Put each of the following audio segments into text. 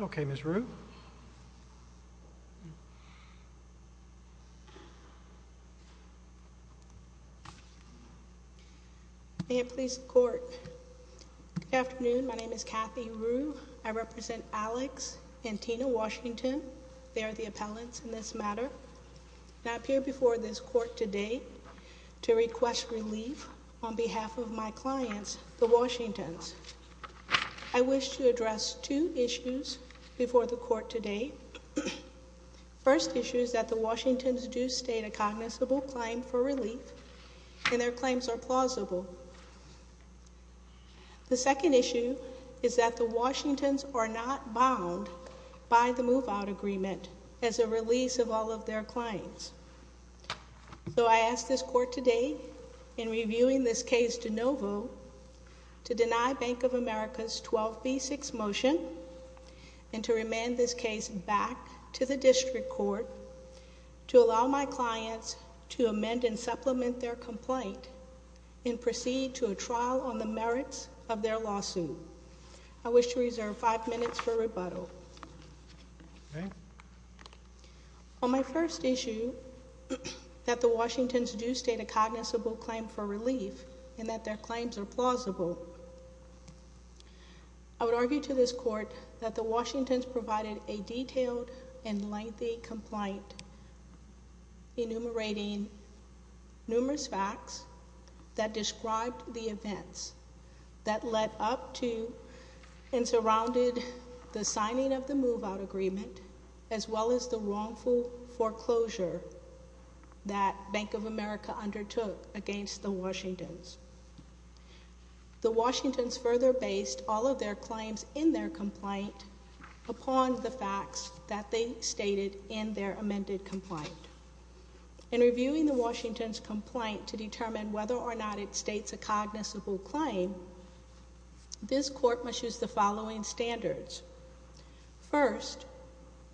Okay, Ms. Rue. May it please the Court, good afternoon, my name is Kathy Rue, I represent Alix and Tina Washington, they are the appellants in this matter, and I appear before this Court today to request relief on behalf of my clients, the Washingtons. I wish to address two issues before the Court today. First issue is that the Washingtons do state a cognizable claim for relief, and their claims are plausible. The second issue is that the Washingtons are not bound by the move-out agreement as a release of all of their clients, so I ask this Court today, in reviewing this case de novo, to deny Bank of America's 12B6 motion, and to remand this case back to the District Court, to allow my clients to amend and supplement their complaint, and proceed to a trial on the merits of their lawsuit. I wish to reserve five minutes for rebuttal. On my first issue, that the Washingtons do state a cognizable claim for relief, and that their claims are plausible, I would argue to this Court that the Washingtons provided a detailed and lengthy complaint, enumerating numerous facts that described the events that led up to and surrounded the signing of the move-out agreement, as well as the wrongful foreclosure that Bank of America undertook against the Washingtons. The Washingtons further based all of their claims in their complaint upon the facts that they stated in their amended complaint. In reviewing the Washingtons' complaint to determine whether or not it states a cognizable claim, this Court must use the following standards. First,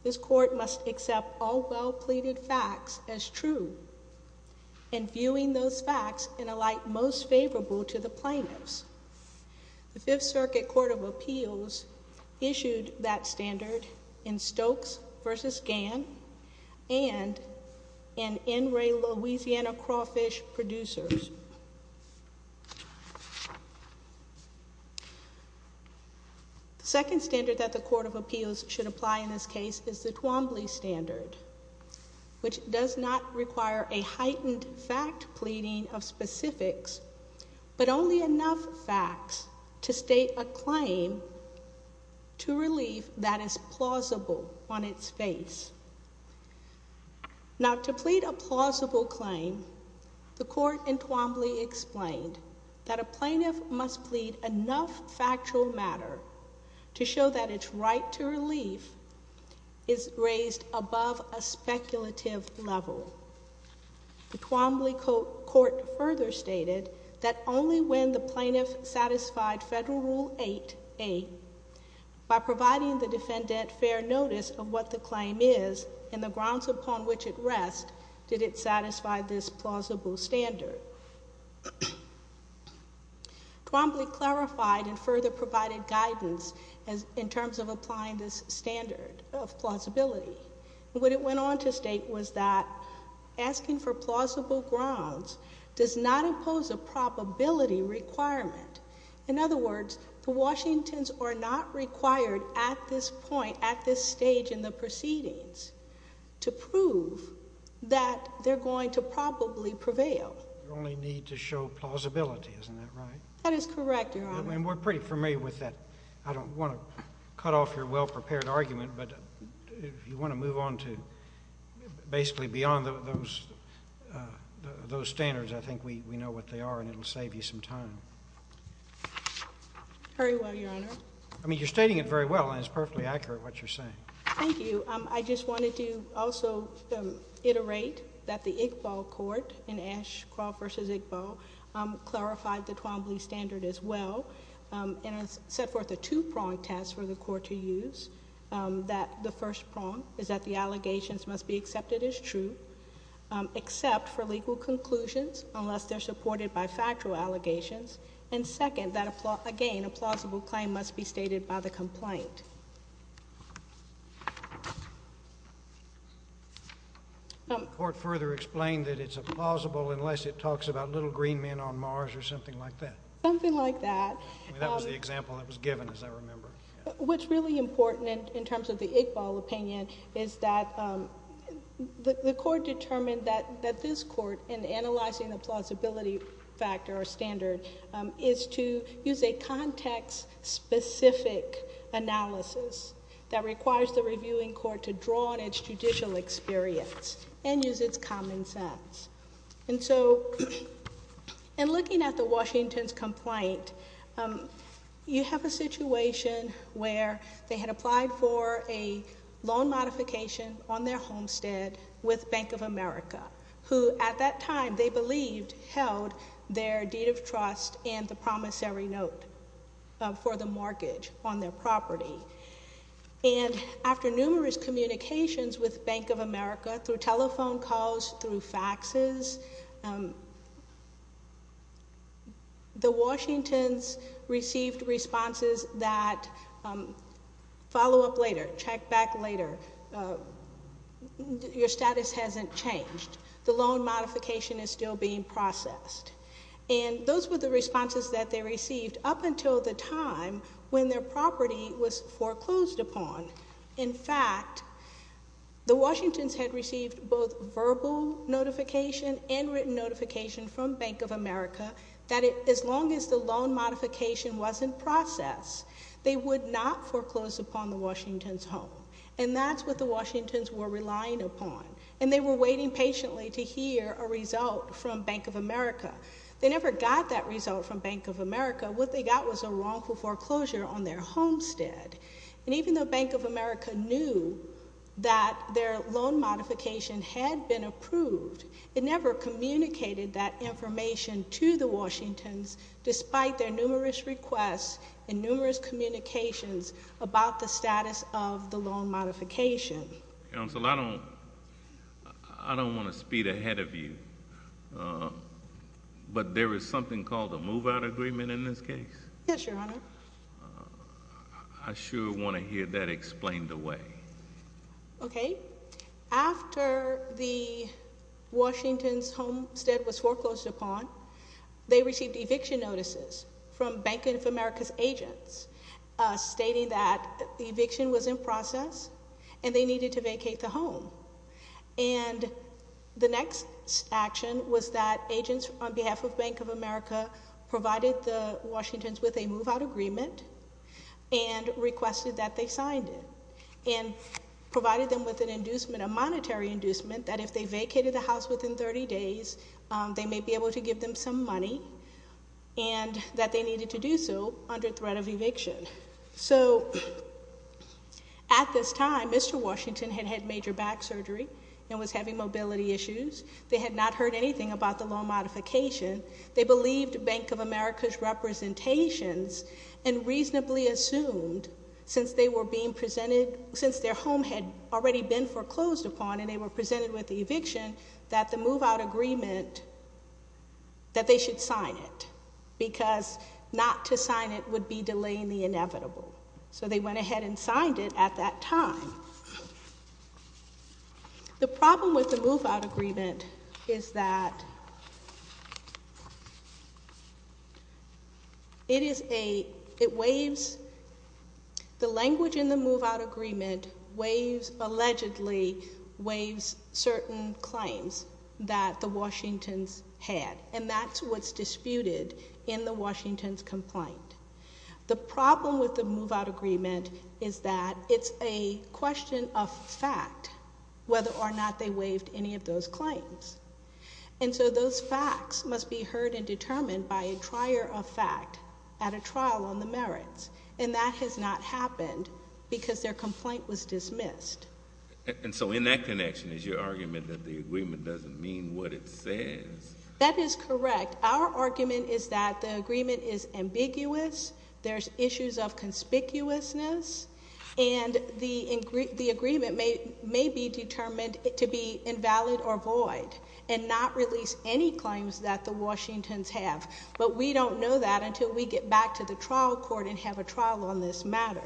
this Court must accept all well-pleaded facts as true, and viewing those facts in a light most favorable to the plaintiffs. The Fifth Circuit Court of Appeals issued that standard in Stokes v. Gann and in N. Ray, Louisiana, Crawfish Producers. The second standard that the Court of Appeals should apply in this case is the Twombly standard, which does not require a heightened fact pleading of specifics, but only enough facts to state a claim to relief that is plausible on its face. Now, to plead a plausible claim, the Court in Twombly explained that a plaintiff must plead enough factual matter to show that its right to relief is raised above a speculative level. The Twombly Court further stated that only when the plaintiff satisfied Federal Rule 8.8 by providing the defendant fair notice of what the claim is and the grounds upon which it rests did it satisfy this plausible standard. Twombly clarified and further provided guidance in terms of applying this standard of plausibility. What it went on to state was that asking for plausible grounds does not impose a probability requirement. In other words, the Washingtons are not required at this point, at this stage in the proceedings to prove that they're going to probably prevail. You only need to show plausibility, isn't that right? That is correct, Your Honor. And we're pretty familiar with that. I don't want to cut off your well-prepared argument, but if you want to move on to basically beyond those standards, I think we know what they are, and it'll save you some time. Very well, Your Honor. I mean, you're stating it very well, and it's perfectly accurate what you're saying. Thank you. I just wanted to also iterate that the Iqbal Court in Ashcrawl v. Iqbal clarified the Twombly standard as well, and has set forth a two-pronged test for the Court to use, that the first is that it's a plausible claim, except for legal conclusions, unless they're supported by factual allegations, and second, that again, a plausible claim must be stated by the complaint. Court further explained that it's a plausible unless it talks about little green men on Mars or something like that. Something like that. I mean, that was the example that was given, as I remember. What's really important, in terms of the Iqbal opinion, is that the Court determined that this Court, in analyzing the plausibility factor or standard, is to use a context-specific analysis that requires the reviewing Court to draw on its judicial experience and use its common sense. And so, in looking at the Washington's complaint, you have a situation where they had applied for a loan modification on their homestead with Bank of America, who, at that time, they believed held their deed of trust and the promissory note for the mortgage on their property. And, after numerous communications with Bank of America, through telephone calls, through faxes, the Washingtons received responses that, follow-up later, check back later, your status hasn't changed, the loan modification is still being processed. And those were the responses that they received up until the time when their property was foreclosed upon. In fact, the Washingtons had received both verbal notification and written notification from Bank of America that, as long as the loan modification was in process, they would not foreclose upon the Washington's home. And that's what the Washingtons were relying upon, and they were waiting patiently to hear a result from Bank of America. They never got that result from Bank of America. What they got was a wrongful foreclosure on their homestead. And even though Bank of America knew that their loan modification had been approved, it never communicated that information to the Washingtons, despite their numerous requests and numerous communications about the status of the loan modification. Counsel, I don't want to speed ahead of you, but there is something called a move-out agreement in this case? Yes, Your Honor. I sure want to hear that explained away. Okay. After the Washington's homestead was foreclosed upon, they received eviction notices from Bank of America's agents stating that the eviction was in process and they needed to vacate the home. And the next action was that agents on behalf of Bank of America provided the Washingtons with a move-out agreement and requested that they signed it and provided them with an inducement, a monetary inducement, that if they vacated the house within 30 days, they may be able to give them some money and that they needed to do so under threat of eviction. So at this time, Mr. Washington had had major back surgery and was having mobility issues. They had not heard anything about the loan modification. They believed Bank of America's representations and reasonably assumed, since they were being presented, since their home had already been foreclosed upon and they were presented with that they should sign it because not to sign it would be delaying the inevitable. So they went ahead and signed it at that time. The problem with the move-out agreement is that it is a, it waives, the language in the And that's what's disputed in the Washingtons' complaint. The problem with the move-out agreement is that it's a question of fact whether or not they waived any of those claims. And so those facts must be heard and determined by a trier of fact at a trial on the merits. And that has not happened because their complaint was dismissed. And so in that connection is your argument that the agreement doesn't mean what it says? That is correct. Our argument is that the agreement is ambiguous. There's issues of conspicuousness. And the agreement may be determined to be invalid or void and not release any claims that the Washingtons have. But we don't know that until we get back to the trial court and have a trial on this matter.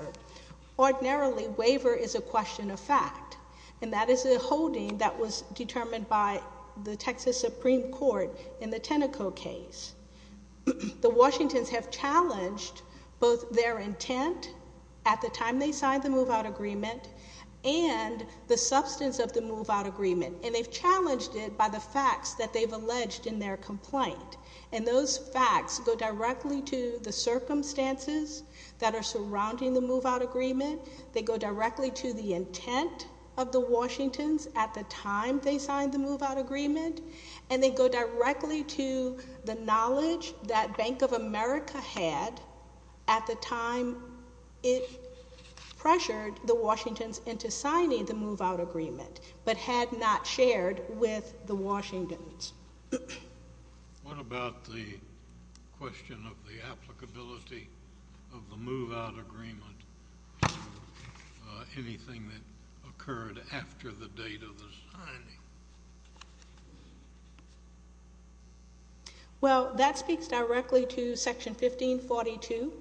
Ordinarily, waiver is a question of fact. And that is a holding that was determined by the Texas Supreme Court in the Teneco case. The Washingtons have challenged both their intent at the time they signed the move-out agreement and the substance of the move-out agreement. And they've challenged it by the facts that they've alleged in their complaint. And those facts go directly to the circumstances that are surrounding the move-out agreement. They go directly to the intent of the Washingtons at the time they signed the move-out agreement. And they go directly to the knowledge that Bank of America had at the time it pressured the Washingtons into signing the move-out agreement, but had not shared with the Washingtons. What about the question of the applicability of the move-out agreement? Anything that occurred after the date of the signing? Well, that speaks directly to Section 1542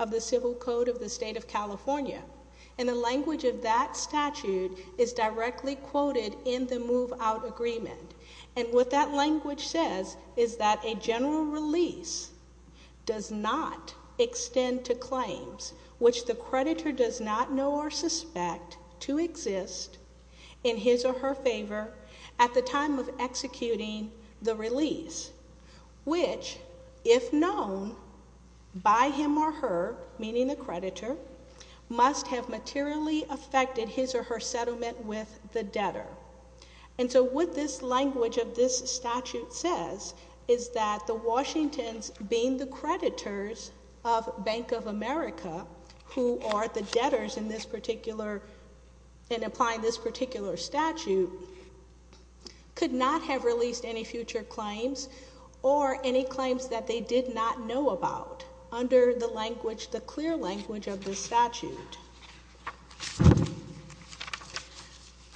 of the Civil Code of the State of California. And the language of that statute is directly quoted in the move-out agreement. And what that language says is that a general release does not extend to claims which the creditor does not know or suspect to exist in his or her favor at the time of executing the release, which, if known by him or her, meaning the creditor, must have materially affected his or her settlement with the debtor. And so what this language of this statute says is that the Washingtons, being the creditors of Bank of America, who are the debtors in this particular, in applying this particular statute, could not have released any future claims or any claims that they did not know about under the language, the clear language of this statute.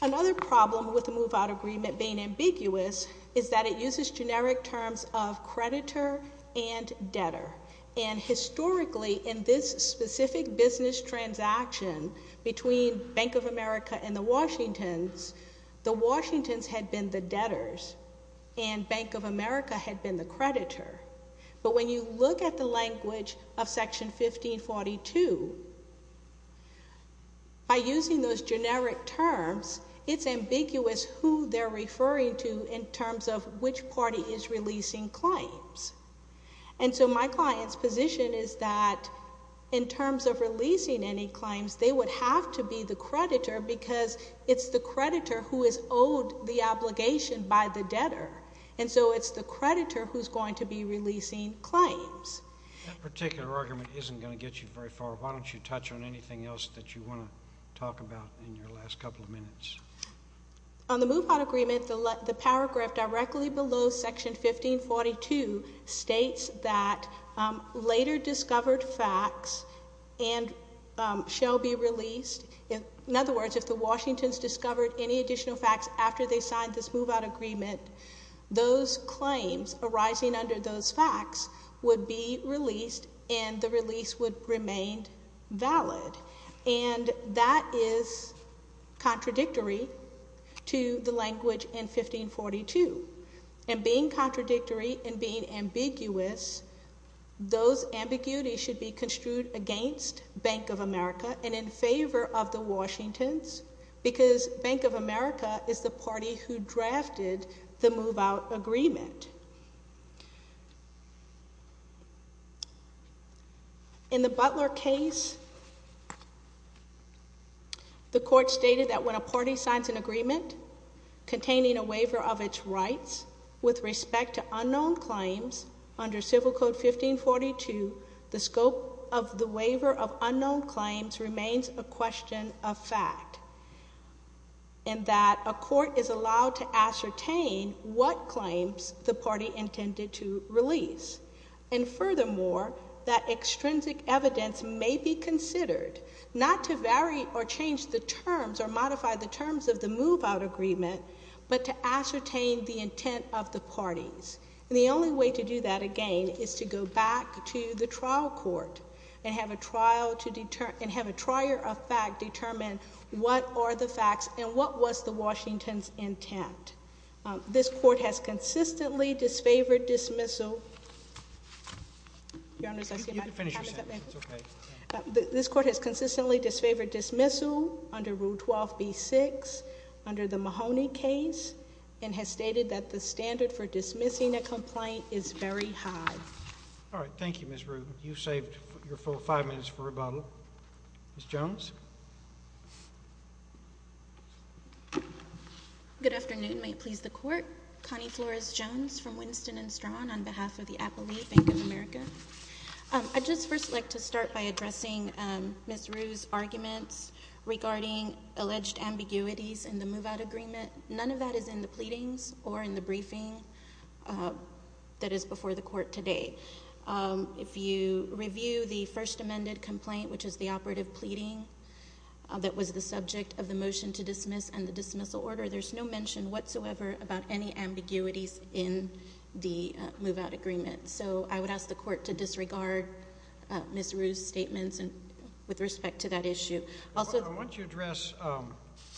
Another problem with the move-out agreement being ambiguous is that it uses generic terms of creditor and debtor. And historically, in this specific business transaction between Bank of America and the Washingtons, the Washingtons had been the debtors and Bank of America had been the creditor. But when you look at the language of Section 1542, by using those generic terms, it's ambiguous who they're referring to in terms of which party is releasing claims. And so my client's position is that in terms of releasing any claims, they would have to be the creditor because it's the creditor who is owed the obligation by the debtor. And so it's the creditor who's going to be releasing claims. That particular argument isn't going to get you very far. Why don't you touch on anything else that you want to talk about in your last couple of minutes? On the move-out agreement, the paragraph directly below Section 1542 states that later discovered facts and shall be released. In other words, if the Washingtons discovered any additional facts after they signed this move-out agreement, those claims arising under those facts would be released and the release would remain valid. And that is contradictory to the language in 1542. And being contradictory and being ambiguous, those ambiguities should be construed against Bank of America and in favor of the Washingtons because Bank of America is the party who drafted the move-out agreement. In the Butler case, the court stated that when a party signs an agreement containing a waiver of its rights with respect to unknown claims under Civil Code 1542, the scope of what claims the party intended to release. And furthermore, that extrinsic evidence may be considered, not to vary or change the terms or modify the terms of the move-out agreement, but to ascertain the intent of the parties. And the only way to do that, again, is to go back to the trial court and have a trial of fact determine what are the facts and what was the Washingtons' intent. This court has consistently disfavored dismissal under Rule 12b-6 under the Mahoney case and has stated that the standard for dismissing a complaint is very high. All right. Thank you, Ms. Rue. You've saved your full five minutes for rebuttal. Ms. Jones? Good afternoon. May it please the Court. Connie Flores-Jones from Winston & Strong on behalf of the Appleby Bank of America. I'd just first like to start by addressing Ms. Rue's arguments regarding alleged ambiguities in the move-out agreement. None of that is in the pleadings or in the briefing that is before the Court today. If you review the first amended complaint, which is the operative pleading that was the subject of the motion to dismiss and the dismissal order, there's no mention whatsoever about any ambiguities in the move-out agreement. So I would ask the Court to disregard Ms. Rue's statements with respect to that issue. I want to address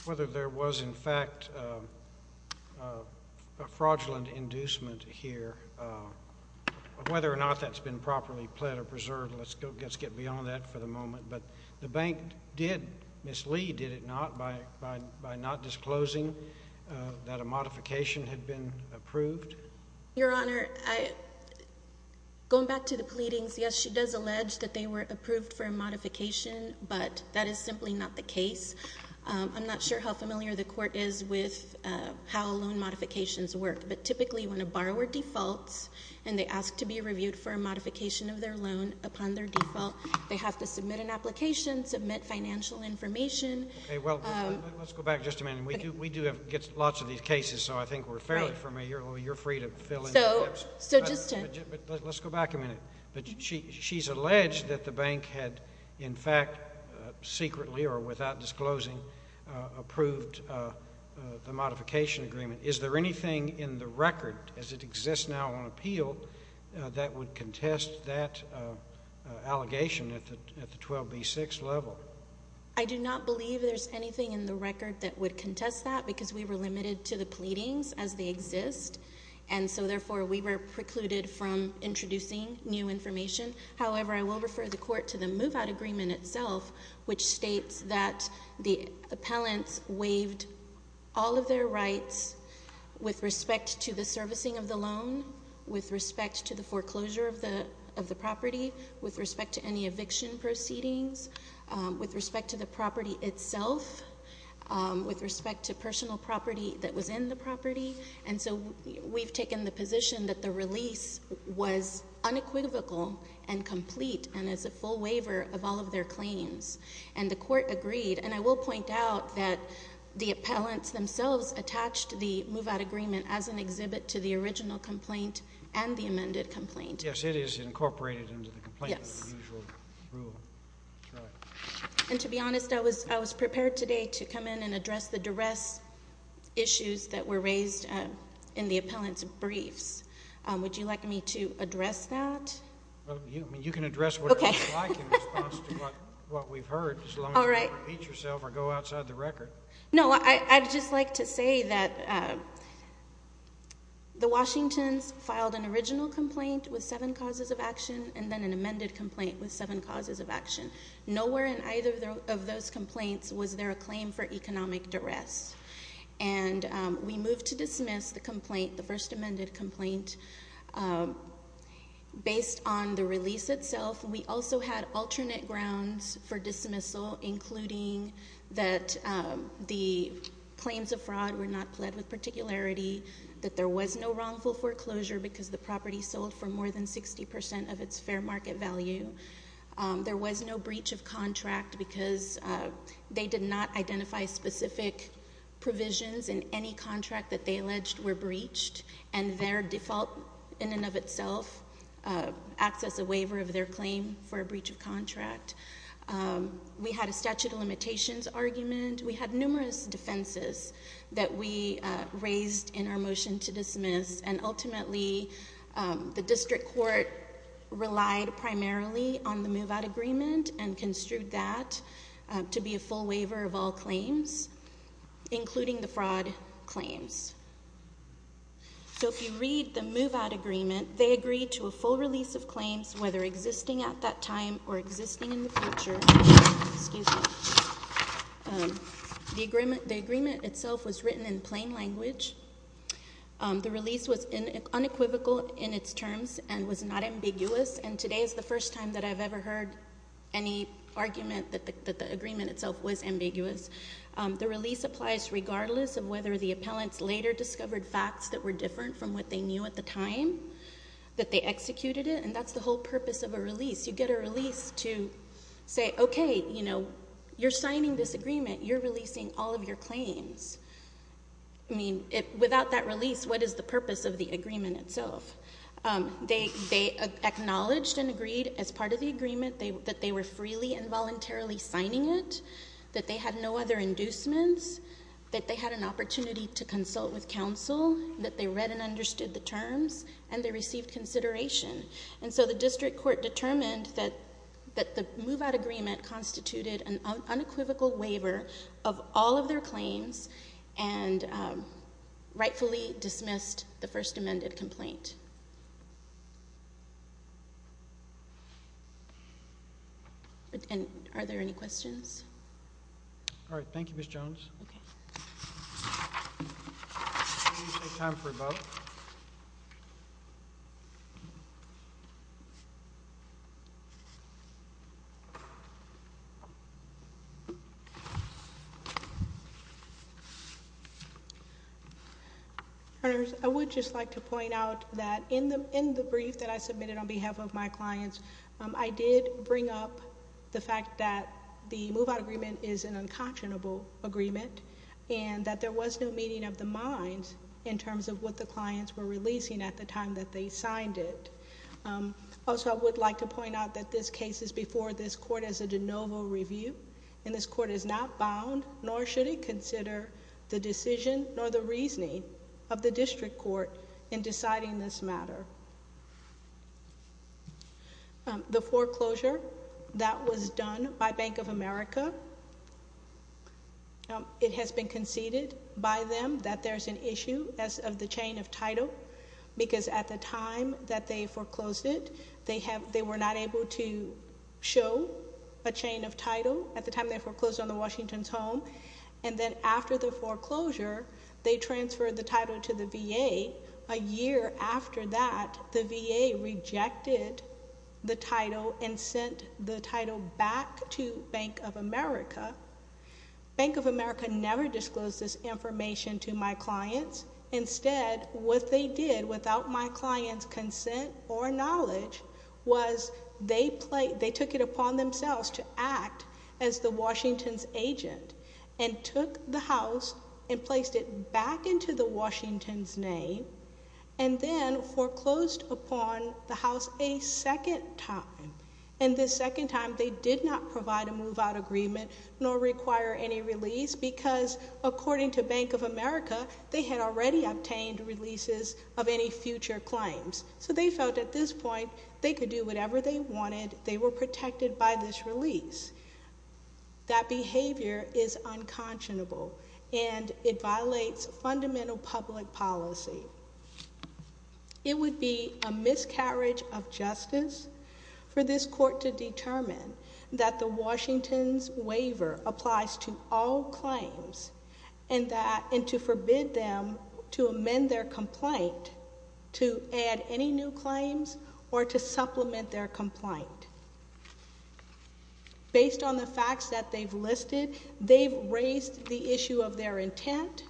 whether there was, in fact, a fraudulent inducement here, whether or not that's been properly pled or preserved. Let's get beyond that for the moment. But the bank did mislead, did it not, by not disclosing that a modification had been approved? Your Honor, going back to the pleadings, yes, she does allege that they were approved for but that's simply not the case. I'm not sure how familiar the Court is with how loan modifications work, but typically when a borrower defaults and they ask to be reviewed for a modification of their loan upon their default, they have to submit an application, submit financial information. Well, let's go back just a minute. We do get lots of these cases, so I think we're fairly familiar. You're free to fill in the gaps. So just to— Let's go back a minute. She's alleged that the bank had, in fact, secretly or without disclosing, approved the modification agreement. Is there anything in the record, as it exists now on appeal, that would contest that allegation at the 12B6 level? I do not believe there's anything in the record that would contest that because we were limited to the pleadings as they exist, and so therefore we were precluded from introducing new information. However, I will refer the Court to the move-out agreement itself, which states that the appellants waived all of their rights with respect to the servicing of the loan, with respect to the foreclosure of the property, with respect to any eviction proceedings, with respect to the property itself, with respect to personal property that was in the property. And so we've taken the position that the release was unequivocal and complete and is a full waiver of all of their claims, and the Court agreed. And I will point out that the appellants themselves attached the move-out agreement as an exhibit to the original complaint and the amended complaint. Yes, it is incorporated into the complaint as usual. Yes. And to be honest, I was prepared today to come in and address the duress issues that were raised in the appellant's briefs. Would you like me to address that? You can address whatever you like in response to what we've heard, as long as you don't repeat yourself or go outside the record. No, I'd just like to say that the Washingtons filed an original complaint with seven causes of action and then an amended complaint with seven causes of action. Nowhere in either of those complaints was there a claim for economic duress. And we moved to dismiss the complaint, the first amended complaint, based on the release itself. We also had alternate grounds for dismissal, including that the claims of fraud were not pled with particularity, that there was no wrongful foreclosure because the property sold for more than 60% of its fair market value. There was no breach of contract because they did not identify specific provisions in any contract that they alleged were breached. And their default, in and of itself, acts as a waiver of their claim for a breach of contract. We had a statute of limitations argument. We had numerous defenses that we raised in our motion to dismiss. And ultimately, the district court relied primarily on the move-out agreement and construed that to be a full waiver of all claims, including the fraud claims. So if you read the move-out agreement, they agreed to a full release of claims, whether existing at that time or existing in the future. Excuse me. The agreement itself was written in plain language. The release was unequivocal in its terms and was not ambiguous. And today is the first time that I've ever heard any argument that the agreement itself was ambiguous. The release applies regardless of whether the appellants later discovered facts that were different from what they knew at the time that they executed it. And that's the whole purpose of a release. You get a release to say, okay, you know, you're signing this agreement. You're releasing all of your claims. I mean, without that release, what is the purpose of the agreement itself? They acknowledged and agreed as part of the agreement that they were freely and voluntarily signing it, that they had no other inducements, that they had an opportunity to consult with counsel, that they read and understood the terms, and they received consideration. And so the district court determined that the move-out agreement constituted an unequivocal waiver of all of their claims and rightfully dismissed the first amended complaint. And are there any questions? All right, thank you, Ms. Jones. Okay. Do we have time for a vote? All right. I would just like to point out that in the brief that I submitted on behalf of my clients, I did bring up the fact that the move-out agreement is an unconscionable agreement and that there was no meeting of the minds in terms of what the clients were releasing at the time that they signed it. Also, I would like to point out that this case is before this court as a de novo review, and this court is not bound nor should it consider the decision nor the reasoning of the district court in deciding this matter. The foreclosure that was done by Bank of America, it has been conceded by them that there's an issue as of the chain of title, because at the time that they foreclosed it, they were not able to show a chain of title at the time they foreclosed on the Washington's home. Then after the foreclosure, they transferred the title to the VA. A year after that, the VA rejected the title and sent the title back to Bank of America. Bank of America never disclosed this information to my clients. Instead, what they did without my client's consent or knowledge was they took it upon themselves to act as the Washington's agent and took the house and placed it back into the Washington's name and then foreclosed upon the house a second time. This second time, they did not provide a move-out agreement nor require any release, because according to Bank of America, they had already obtained releases of any future claims. So they felt at this point they could do whatever they wanted. They were protected by this release. That behavior is unconscionable, and it violates fundamental public policy. It would be a miscarriage of justice for this court to determine that the Washington's waiver applies to all claims and to forbid them to amend their complaint to add any new claims or to supplement their complaint. Based on the facts that they've listed, they've raised the issue of their intent,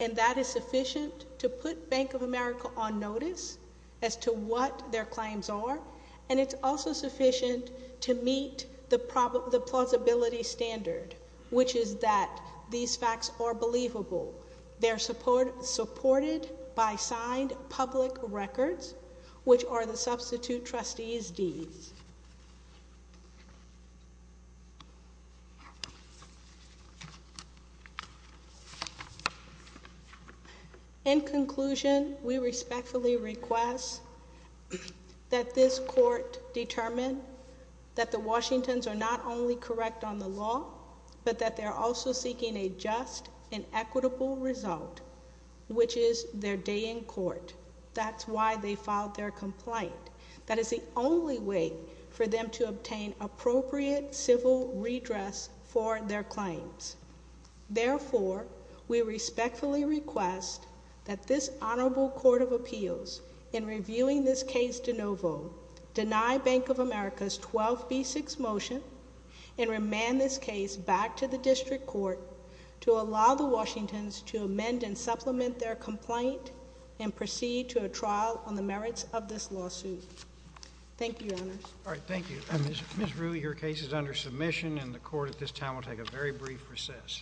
and that is sufficient to put Bank of America on notice as to what their claims are, and it's also sufficient to meet the plausibility standard, which is that these facts are believable. They're supported by signed public records, which are the substitute trustees' deeds. In conclusion, we respectfully request that this court determine that the Washington's are not only correct on the law, but that they're also seeking a just and equitable result, which is their day in court. That's why they filed their complaint. That is the only way for them to obtain appropriate civil redress for their claims. Therefore, we respectfully request that this honorable court of appeals, in reviewing this case de novo, deny Bank of America's 12B6 motion and remand this case back to the district court to allow the Washington's to amend and supplement their complaint and proceed to a trial on the merits of this lawsuit. Thank you, Your Honors. All right, thank you. Ms. Rue, your case is under submission, and the court at this time will take a very brief recess.